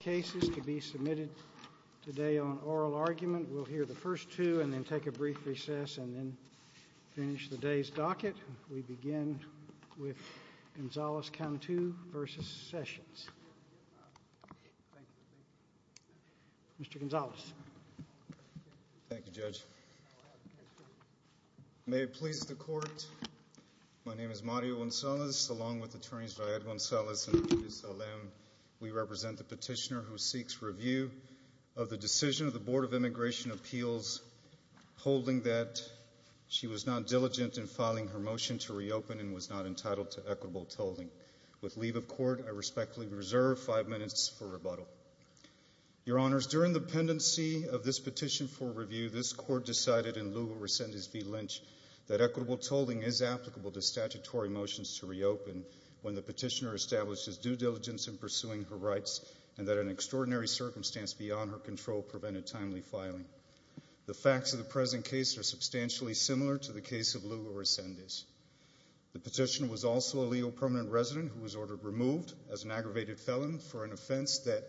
Cases to be submitted today on oral argument. We'll hear the first two and then take a brief recess and then Finish the day's docket. We begin with Gonzales-Cantu v. Sessions Mr. Gonzales Thank You judge May it please the court My name is Mario Gonzalez along with attorneys Viad Gonzalez and Rufus Salem We represent the petitioner who seeks review of the decision of the Board of Immigration Appeals holding that She was not diligent in filing her motion to reopen and was not entitled to equitable tolling with leave of court I respectfully reserve five minutes for rebuttal Your honors during the pendency of this petition for review This court decided in lieu of rescind his v Lynch that equitable tolling is applicable to statutory motions to reopen When the petitioner establishes due diligence in pursuing her rights and that an extraordinary circumstance beyond her control prevented timely filing The facts of the present case are substantially similar to the case of Lugo rescind is the petitioner was also a Leo permanent resident who was ordered removed as an aggravated felon for an offense that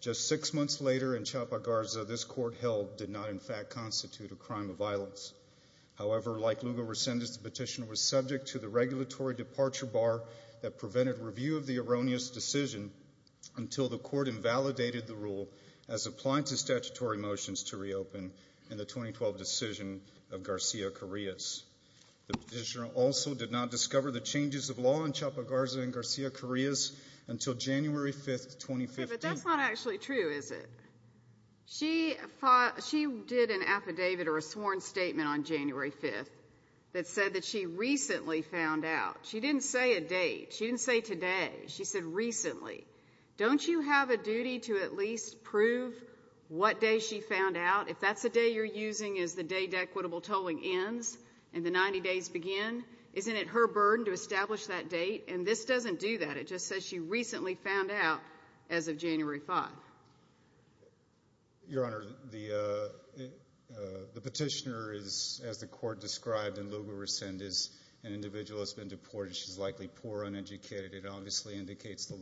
Just six months later in Chapa, Garza. This court held did not in fact constitute a crime of violence However, like Lugo rescind is the petitioner was subject to the regulatory departure bar that prevented review of the erroneous decision until the court invalidated the rule as Applying to statutory motions to reopen in the 2012 decision of Garcia Correa's The petitioner also did not discover the changes of law in Chapa, Garza and Garcia Correa's until January 5th That's not actually true. Is it? She fought she did an affidavit or a sworn statement on January 5th That said that she recently found out she didn't say a date. She didn't say today She said recently don't you have a duty to at least prove? What day she found out if that's a day you're using is the day dequitable tolling ends and the 90 days begin Isn't it her burden to establish that date and this doesn't do that. It just says she recently found out as of January 5 Your honor the The petitioner is as the court described in Lugo rescind is an individual has been deported. She's likely poor uneducated it obviously indicates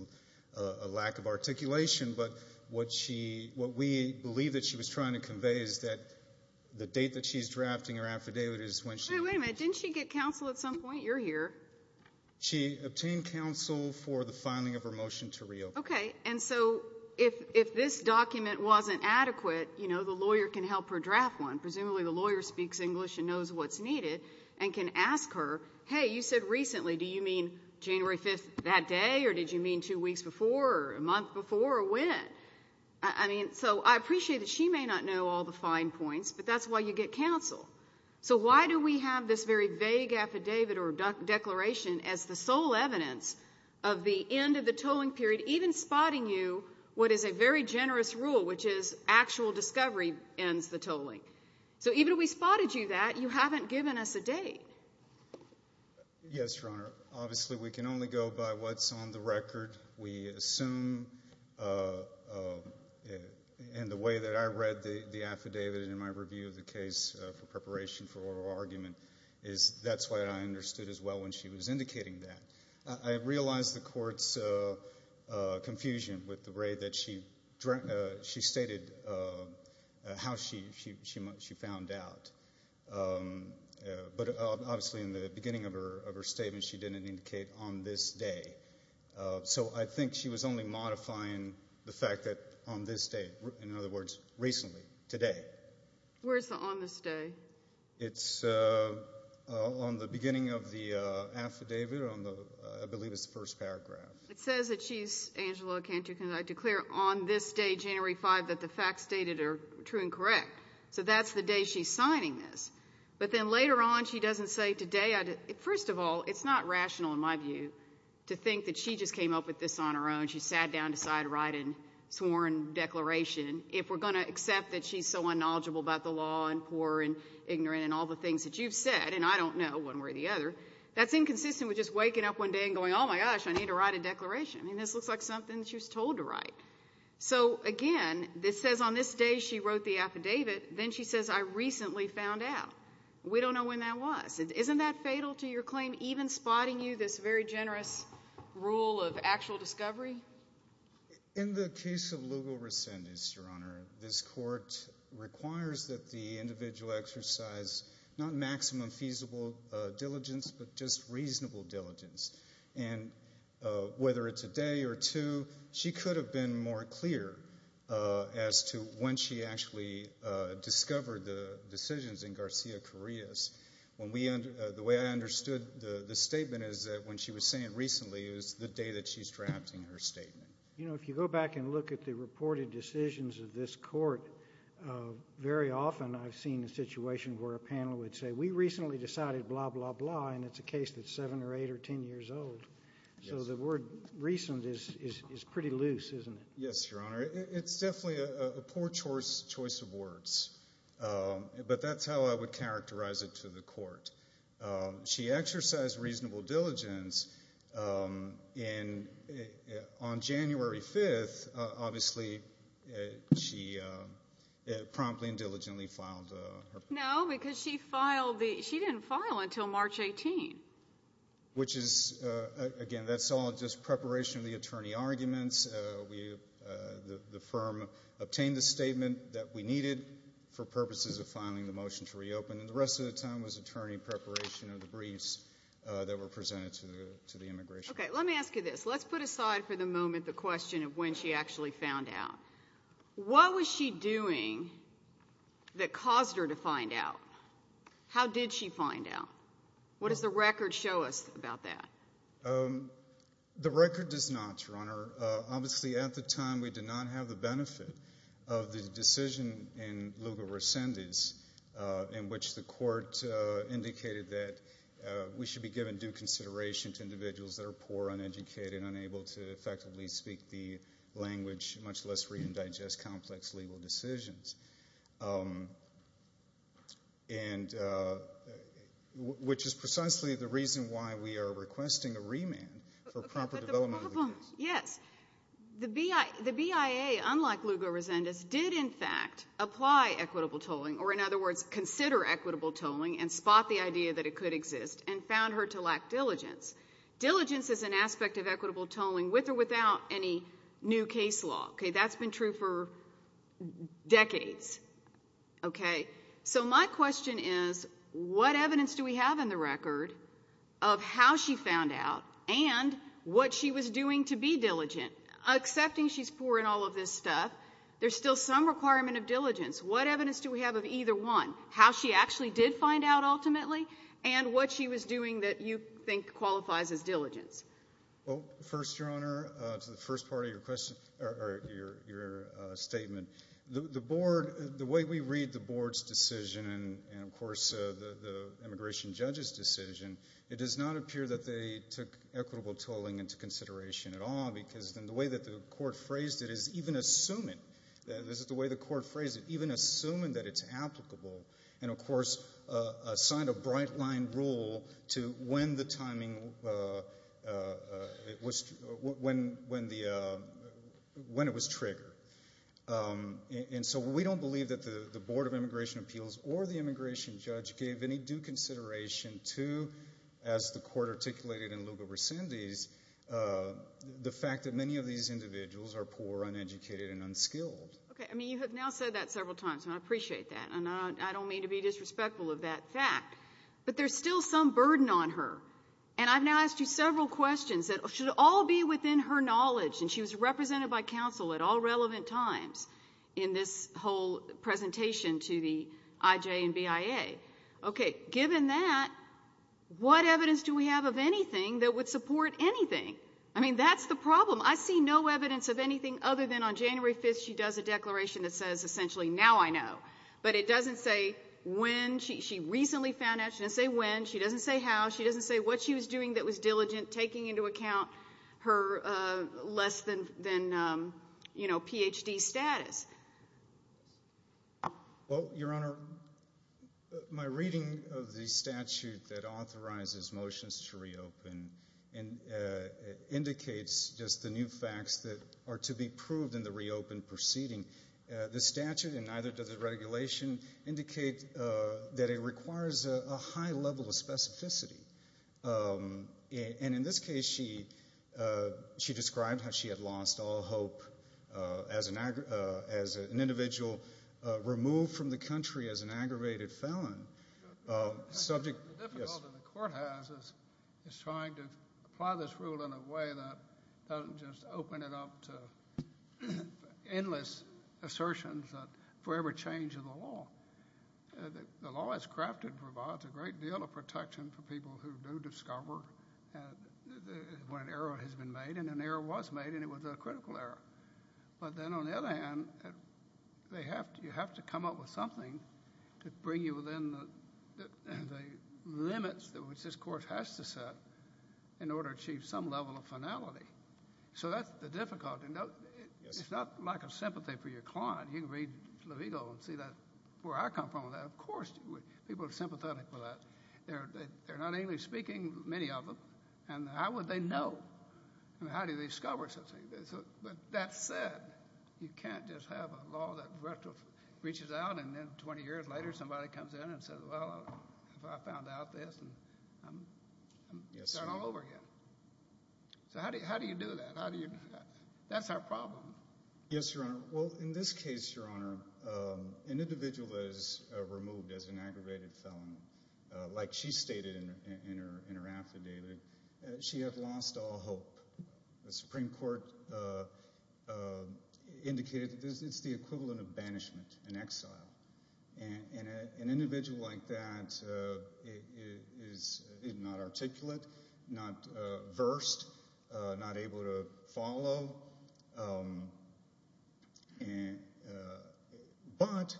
a lack of articulation, but what she what we believe that she was trying to convey is that The date that she's drafting her affidavit is when she wait a minute. Didn't she get counsel at some point? You're here She obtained counsel for the filing of her motion to reopen Okay And so if if this document wasn't adequate, you know The lawyer can help her draft one presumably the lawyer speaks English and knows what's needed and can ask her Hey, you said recently do you mean January 5th that day or did you mean two weeks before a month before or when? I mean, so I appreciate that. She may not know all the fine points, but that's why you get counsel So, why do we have this very vague affidavit or declaration as the sole evidence of the end of the tolling period even Spotting you what is a very generous rule, which is actual discovery ends the tolling So even we spotted you that you haven't given us a date Yes, obviously we can only go by what's on the record we assume And The way that I read the the affidavit in my review of the case for preparation for oral argument is That's why I understood as well when she was indicating that I realized the courts Confusion with the way that she drew she stated how she she she found out But obviously in the beginning of her of her statement she didn't indicate on this day So I think she was only modifying the fact that on this day in other words recently today Where's the on this day? It's on the beginning of the Affidavit on the I believe it's the first paragraph It says that she's Angela can't you can I declare on this day January 5 that the facts stated are true and correct? So that's the day she's signing this but then later on she doesn't say today First of all, it's not rational in my view to think that she just came up with this on her own She sat down to side write and sworn Declaration if we're going to accept that she's so unknowledgeable about the law and poor and ignorant and all the things that you've said And I don't know one way or the other that's inconsistent with just waking up one day and going Oh my gosh, I need to write a declaration. I mean this looks like something she was told to write So again, this says on this day. She wrote the affidavit then she says I recently found out We don't know when that was it isn't that fatal to your claim even spotting you this very generous rule of actual discovery In the case of legal rescind is your honor this court requires that the individual exercise not maximum feasible diligence, but just reasonable diligence and Whether it's a day or two. She could have been more clear as to when she actually Discovered the decisions in Garcia Correa's when we under the way I understood the the statement is that when she was saying recently is the day that she's drafting her statement You know if you go back and look at the reported decisions of this court Very often. I've seen the situation where a panel would say we recently decided blah blah blah And it's a case that's seven or eight or ten years old. So the word recent is is pretty loose, isn't it? It's definitely a poor choice choice of words But that's how I would characterize it to the court She exercised reasonable diligence in on January 5th, obviously she Promptly and diligently filed. No because she filed the she didn't file until March 18 which is Again, that's all just preparation of the attorney arguments. We The firm obtained the statement that we needed for purposes of filing the motion to reopen and the rest of the time was attorney Preparation of the briefs that were presented to the immigration. Okay, let me ask you this Let's put aside for the moment the question of when she actually found out What was she doing? That caused her to find out How did she find out? What does the record show us about that? The record does not your honor obviously at the time we did not have the benefit of the decision in legal rescindance in which the court indicated that We should be given due consideration to individuals that are poor uneducated unable to effectively speak the language much less read and digest complex legal decisions And Which is precisely the reason why we are requesting a remand for proper development, yes The BIA the BIA unlike Lugo Resendez did in fact apply equitable tolling or in other words consider Equitable tolling and spot the idea that it could exist and found her to lack diligence Diligence is an aspect of equitable tolling with or without any new case law. Okay, that's been true for decades Okay, so my question is what evidence do we have in the record of how she found out and What she was doing to be diligent Accepting she's poor in all of this stuff. There's still some requirement of diligence What evidence do we have of either one how she actually did find out ultimately and what she was doing that you think qualifies? As diligence. Well first your honor to the first part of your question or your Statement the board the way we read the board's decision and of course the the immigration judge's decision It does not appear that they took equitable tolling into consideration at all Because then the way that the court phrased it is even assuming that this is the way the court phrased it even assuming that it's applicable and of course Signed a bright line rule to when the timing It was when when the When it was triggered And so we don't believe that the the Board of Immigration Appeals or the immigration judge gave any due consideration to as the court articulated in Lugo-Brescindy's The fact that many of these individuals are poor uneducated and unskilled Okay, I mean you have now said that several times and I appreciate that and I don't mean to be disrespectful of that fact But there's still some burden on her and I've now asked you several questions Should all be within her knowledge and she was represented by counsel at all relevant times in this whole Presentation to the IJ and BIA. Okay, given that What evidence do we have of anything that would support anything? I mean, that's the problem I see no evidence of anything other than on January 5th She does a declaration that says essentially now I know but it doesn't say when she recently found out When she doesn't say how she doesn't say what she was doing that was diligent taking into account her less than then You know PhD status Well, your honor my reading of the statute that authorizes motions to reopen and Indicates just the new facts that are to be proved in the reopen proceeding the statute and neither does the regulation Indicate that it requires a high level of specificity And in this case she She described how she had lost all hope as an act as an individual Removed from the country as an aggravated felon subject Is trying to apply this rule in a way that doesn't just open it up to Assertions that forever change of the law The law is crafted provides a great deal of protection for people who do discover When an error has been made and an error was made and it was a critical error, but then on the other hand they have to you have to come up with something to bring you within the Limits that which this court has to set in order to achieve some level of finality So that's the difficulty no, it's not like a sympathy for your client You can read the legal and see that where I come from that. Of course, people are sympathetic for that They're they're not English-speaking many of them and how would they know and how do they discover such a thing? There's a but that said you can't just have a law that retro reaches out and then 20 years later somebody comes in and says well, I found out this and I'm starting all over again So, how do you how do you do that? How do you that's our problem? Yes, Your Honor. Well in this case, Your Honor An individual is removed as an aggravated felon Like she stated in her in her affidavit. She had lost all hope the Supreme Court Indicated it's the equivalent of banishment and exile and an individual like that Is not articulate, not versed, not able to follow But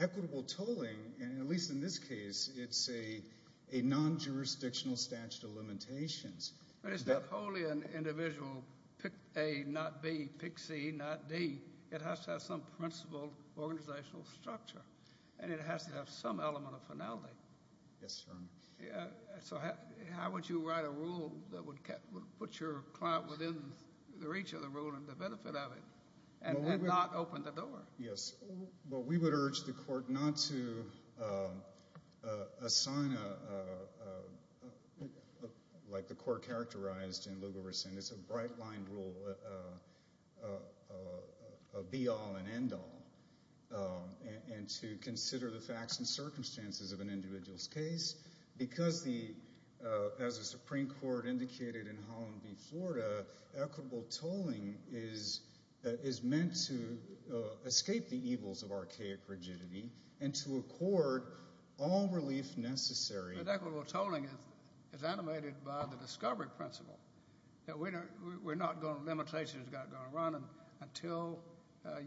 Equitable tolling and at least in this case, it's a a non-jurisdictional statute of limitations But it's not wholly an individual pick A not B pick C not D It has to have some principled organizational structure and it has to have some element of finality Yes, Your Honor. Yeah, so how would you write a rule that would put your client within the reach of the rule and the benefit of it and not open the door? Yes, well, we would urge the court not to Assign a Like the court characterized in Lugo-Versant, it's a bright line rule Be all and end all And to consider the facts and circumstances of an individual's case because the as a Supreme Court indicated in Holland v. Florida equitable tolling is is meant to Escape the evils of archaic rigidity and to accord all relief necessary But equitable tolling is is animated by the discovery principle that we're not going to limitations got going to run them until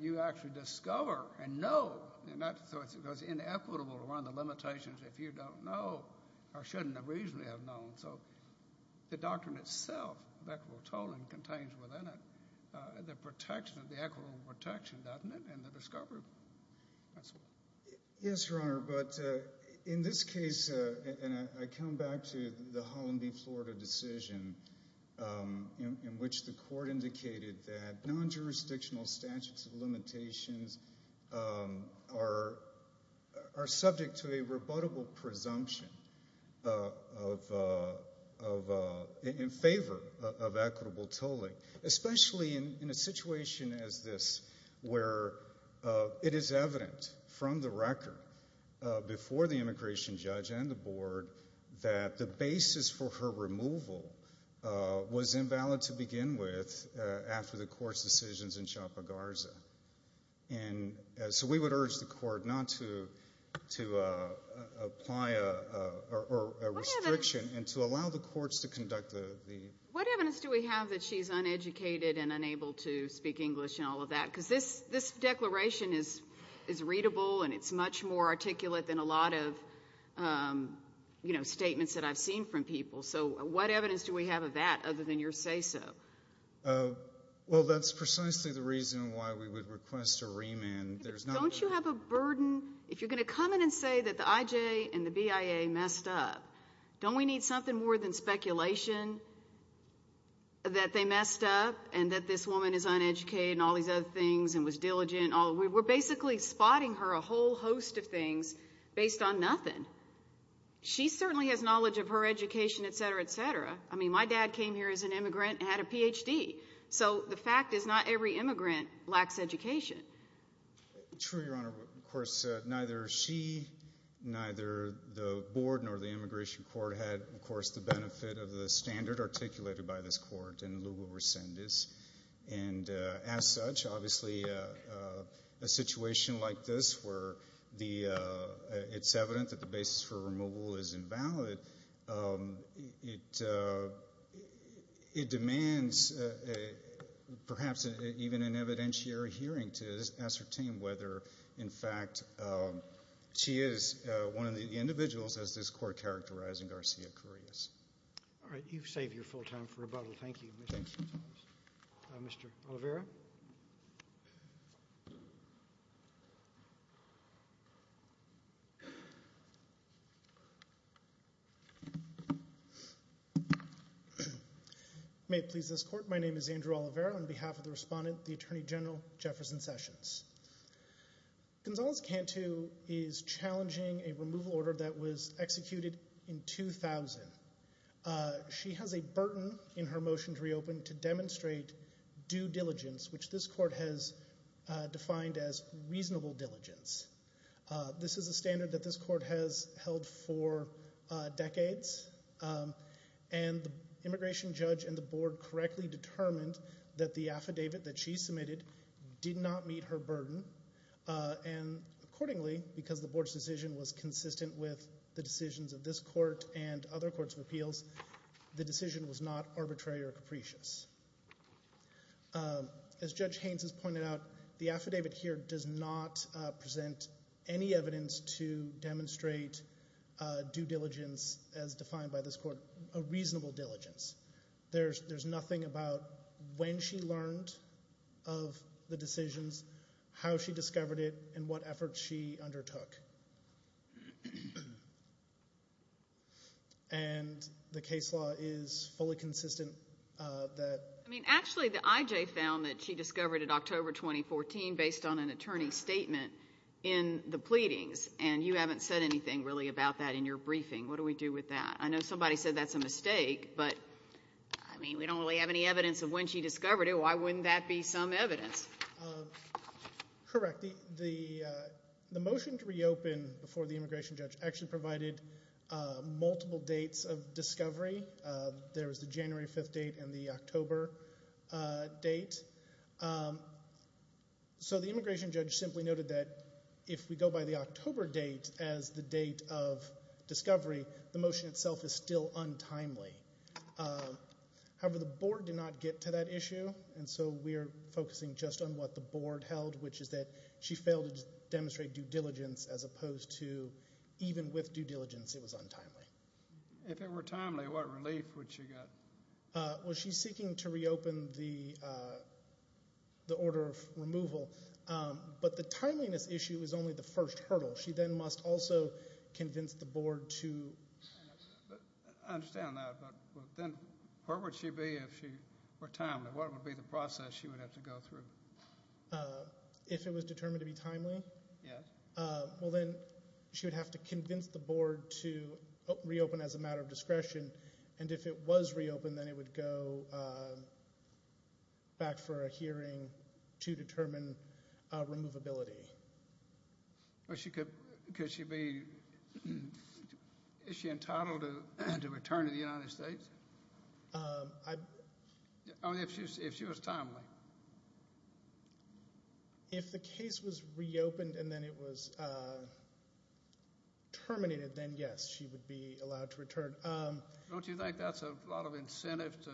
You actually discover and know and that's because it was inequitable to run the limitations if you don't know Or shouldn't have reasonably have known so The doctrine itself of equitable tolling contains within it the protection of the equitable protection, doesn't it? And the discovery principle. Yes, Your Honor, but in this case and I come back to the Holland v. Florida decision In which the court indicated that non-jurisdictional statutes of limitations are Subject to a rebuttable presumption In favor of equitable tolling especially in a situation as this where It is evident from the record Before the immigration judge and the board that the basis for her removal was invalid to begin with after the court's decisions in Chapa Garza and so we would urge the court not to to apply a Restriction and to allow the courts to conduct the the what evidence do we have that she's uneducated and unable to speak English and all Of that because this this declaration is is readable and it's much more articulate than a lot of You know statements that I've seen from people. So what evidence do we have of that other than your say-so? Well, that's precisely the reason why we would request a remand There's don't you have a burden if you're gonna come in and say that the IJ and the BIA messed up Don't we need something more than speculation? That they messed up and that this woman is uneducated and all these other things and was diligent all we were basically Spotting her a whole host of things based on nothing She certainly has knowledge of her education, etc, etc I mean my dad came here as an immigrant and had a PhD. So the fact is not every immigrant lacks education true, your honor, of course, neither she Neither the board nor the immigration court had of course the benefit of the standard articulated by this court in legal rescind is and as such obviously a Situation like this where the it's evident that the basis for removal is invalid it It demands a Perhaps even an evidentiary hearing to ascertain whether in fact She is one of the individuals as this court characterizing Garcia-carreras. All right, you've saved your full time for rebuttal. Thank you Mr. Rivera You May it please this court. My name is Andrew Olivera on behalf of the respondent the Attorney General Jefferson Sessions Gonzales can't who is challenging a removal order that was executed in 2000 She has a burden in her motion to reopen to demonstrate due diligence, which this court has Defined as reasonable diligence. This is a standard that this court has held for decades and Immigration judge and the board correctly determined that the affidavit that she submitted did not meet her burden And accordingly because the board's decision was consistent with the decisions of this court and other courts of appeals The decision was not arbitrary or capricious As judge Haynes has pointed out the affidavit here does not present any evidence to demonstrate Due diligence as defined by this court a reasonable diligence. There's there's nothing about when she learned of The decisions how she discovered it and what efforts she undertook And The case law is fully consistent That I mean actually the IJ found that she discovered at October 2014 based on an attorney statement in The pleadings and you haven't said anything really about that in your briefing. What do we do with that? I know somebody said that's a mistake, but I mean, we don't really have any evidence of when she discovered it Why wouldn't that be some evidence? Correct the the the motion to reopen before the immigration judge actually provided Multiple dates of discovery. There was the January 5th date and the October date So the immigration judge simply noted that if we go by the October date as the date of Discovery the motion itself is still untimely However, the board did not get to that issue and so we are focusing just on what the board held which is that she failed to demonstrate due diligence as opposed to Even with due diligence. It was untimely if it were timely what relief would she got? well, she's seeking to reopen the The order of removal, but the timeliness issue is only the first hurdle. She then must also convince the board to Understand that but then where would she be if she were timely what would be the process she would have to go through If it was determined to be timely, yeah Well, then she would have to convince the board to reopen as a matter of discretion and if it was reopened then it would go Back for a hearing to determine removability Well, she could because she'd be Is she entitled to and to return to the United States Only if she was timely If the case was reopened and then it was Terminated then yes, she would be allowed to return Don't you think that's a lot of incentive to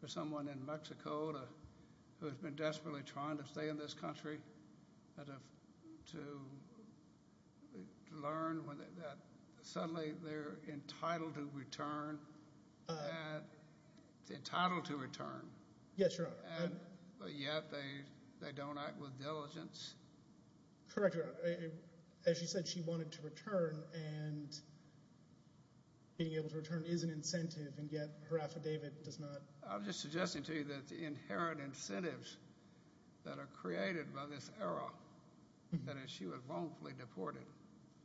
for someone in Mexico to who has been desperately trying to stay in this country to Learn when that suddenly they're entitled to return And Entitled to return. Yes, your honor. Yeah, they they don't act with diligence correct, as you said she wanted to return and Being able to return is an incentive and yet her affidavit does not I'm just suggesting to you that the inherent incentives That are created by this era That is she was wrongfully deported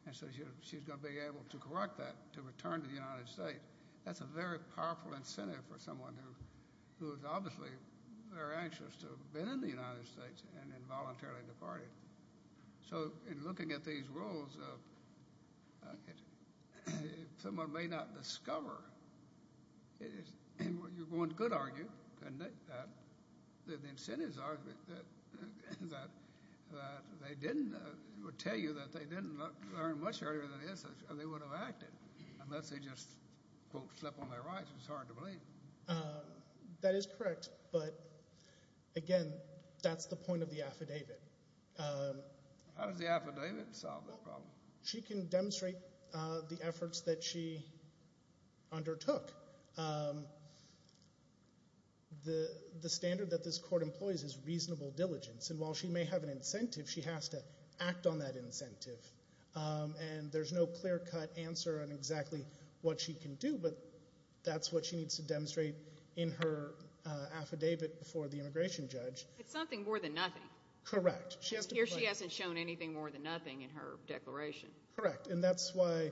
and so she's gonna be able to correct that to return to the United States that's a very powerful incentive for someone who who is obviously they're anxious to have been in the United States and involuntarily departed so in looking at these rules of Someone may not discover it is and what you're going to good argue and that the incentives are They didn't would tell you that they didn't learn much earlier than this and they would have acted unless they just Slept on their rights. It's hard to believe that is correct, but Again, that's the point of the affidavit How does the affidavit solve the problem? She can demonstrate the efforts that she undertook The the standard that this court employs is reasonable diligence and while she may have an incentive she has to act on that incentive And there's no clear-cut answer on exactly what she can do, but that's what she needs to demonstrate in her Affidavit before the immigration judge. It's something more than nothing Correct here. She hasn't shown anything more than nothing in her declaration, correct? And that's why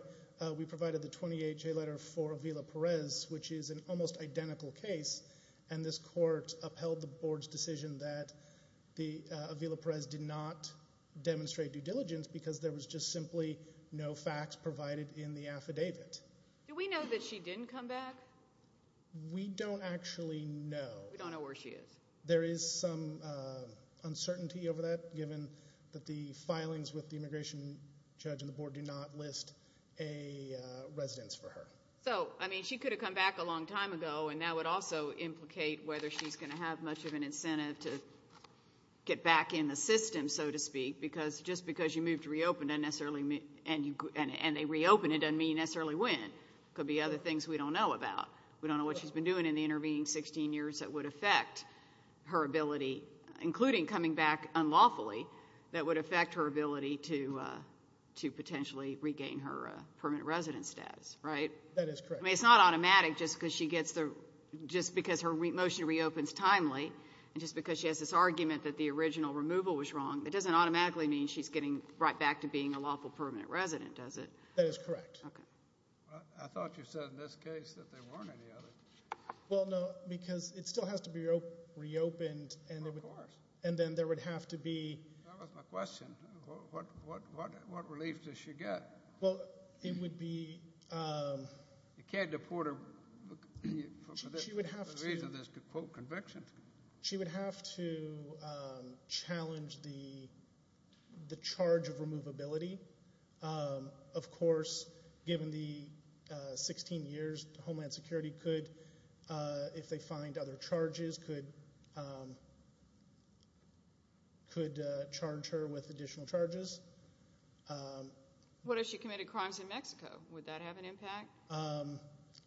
we provided the 28 J letter for Avila Perez which is an almost identical case and this court upheld the board's decision that the Avila Perez did not Demonstrate due diligence because there was just simply no facts provided in the affidavit. Do we know that she didn't come back? We don't actually know. We don't know where she is. There is some uncertainty over that given that the filings with the immigration judge and the board do not list a residence for her so I mean she could have come back a long time ago and that would also implicate whether she's gonna have much of an incentive to Get back in the system so to speak because just because you moved to reopen And they reopen it doesn't mean you necessarily win. It could be other things we don't know about We don't know what she's been doing in the intervening 16 years that would affect her ability including coming back unlawfully that would affect her ability to To potentially regain her permanent residence status, right? It's not automatic just because she gets the just because her motion reopens timely And just because she has this argument that the original removal was wrong It doesn't automatically mean she's getting right back to being a lawful permanent resident. Does it? That is correct. Okay Well, no because it still has to be reopened and it was and then there would have to be What relief does she get well, it would be You can't deport her She would have to She would have to challenge the the charge of removability of course given the 16 years Homeland Security could if they find other charges could Could charge her with additional charges What if she committed crimes in Mexico would that have an impact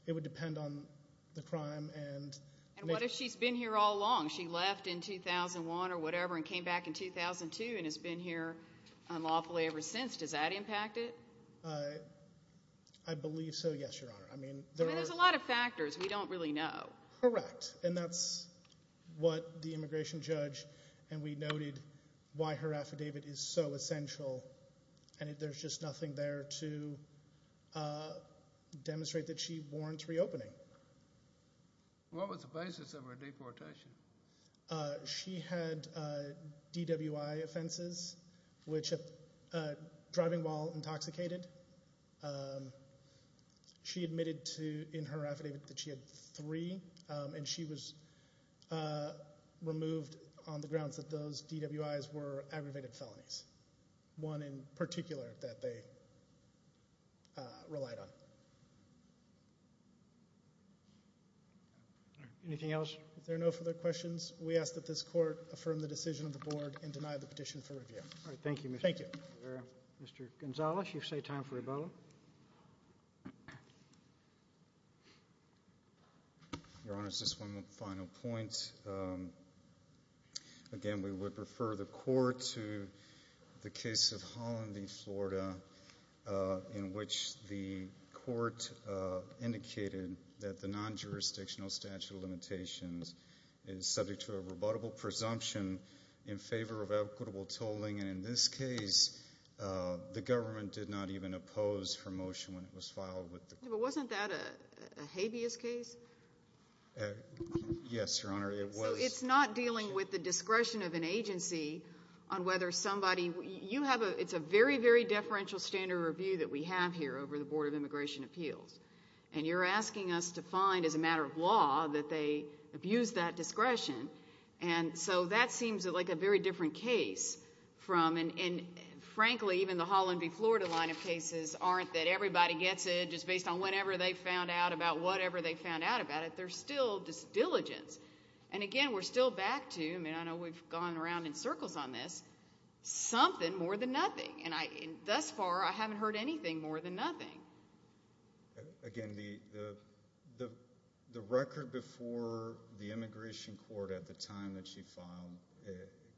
It would depend on the crime and what if she's been here all along she left in 2001 or whatever and came back in 2002 and has been here unlawfully ever since does that impact it? I Believe so. Yes, your honor. I mean, there's a lot of factors. We don't really know correct and that's What the immigration judge and we noted why her affidavit is so essential and if there's just nothing there to Demonstrate that she warrants reopening What was the basis of her deportation? She had DWI offenses which a driving while intoxicated She admitted to in her affidavit that she had three and she was Removed on the grounds that those DWIs were aggravated felonies one in particular that they Relied on Anything else if there are no further questions, we ask that this court affirm the decision of the board and deny the petition for Review. All right. Thank you. Thank you Mr. Gonzalez, you say time for a bow Your honor's this one final point Again we would prefer the court to the case of Holland v, Florida In which the court Indicated that the non-jurisdictional statute of limitations is subject to a rebuttable presumption in favor of equitable tolling and in this case The government did not even oppose her motion when it was filed with the wasn't that a habeas case Yes, your honor it was it's not dealing with the discretion of an agency on whether somebody you have a it's a very very deferential standard review that we have here over the Board of Immigration Appeals and You're asking us to find as a matter of law that they abuse that discretion and so that seems like a very different case from and Frankly, even the Holland v, Florida line of cases aren't that everybody gets it just based on whenever they found out about whatever they found out About it. They're still just diligence. And again, we're still back to I mean, I know we've gone around in circles on this Something more than nothing and I thus far I haven't heard anything more than nothing again, the The record before the Immigration Court at the time that she filed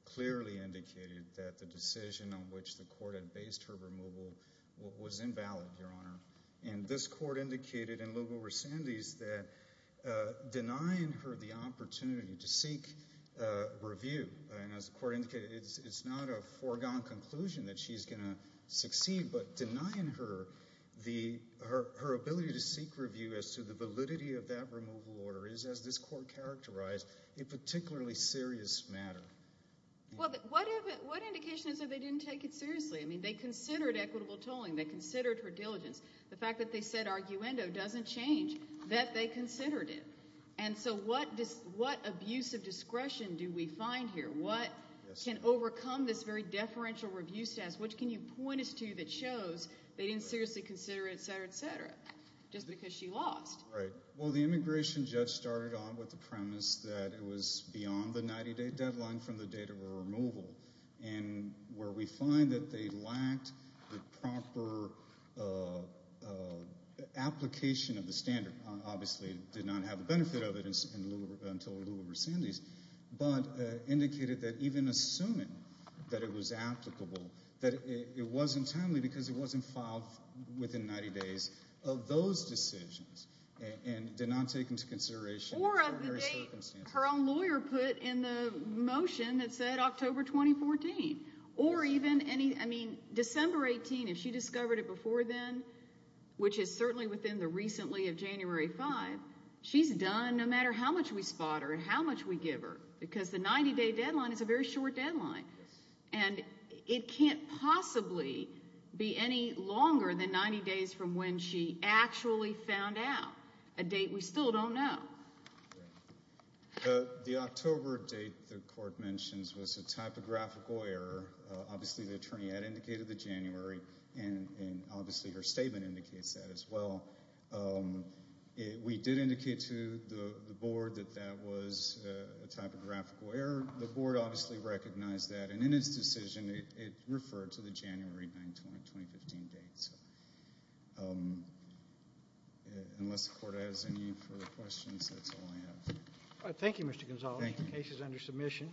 Clearly indicated that the decision on which the court had based her removal Was invalid your honor and this court indicated in local recendees that denying her the opportunity to seek Review and as the court indicated it's it's not a foregone conclusion that she's gonna succeed but denying her The her ability to seek review as to the validity of that removal order is as this court characterized a particularly serious matter Well, what what indication is that they didn't take it seriously? I mean they considered equitable tolling they considered her diligence The fact that they said arguendo doesn't change that they considered it And so what does what abuse of discretion do we find here? What can overcome this very deferential review status? Which can you point us to that shows they didn't seriously consider it, etc, etc Just because she lost right well the immigration judge started on with the premise that it was beyond the 90-day deadline from the date of her removal and Where we find that they lacked the proper The application of the standard obviously did not have a benefit of it until the local recendees but Indicated that even assuming that it was applicable that it wasn't timely because it wasn't filed Within 90 days of those decisions and did not take into consideration Her own lawyer put in the motion that said October 2014 or even any I mean Discovered it before then Which is certainly within the recently of January 5 She's done no matter how much we spot her and how much we give her because the 90-day deadline is a very short deadline and It can't possibly be any longer than 90 days from when she actually found out a date We still don't know The October date the court mentions was a typographical error Obviously the attorney had indicated the January and obviously her statement indicates that as well We did indicate to the board that that was a typographical error the board obviously Recognized that and in his decision it referred to the January 9, 2015 date Unless the court has any further questions, that's all I have. Thank you, Mr. Gonzales. The case is under submission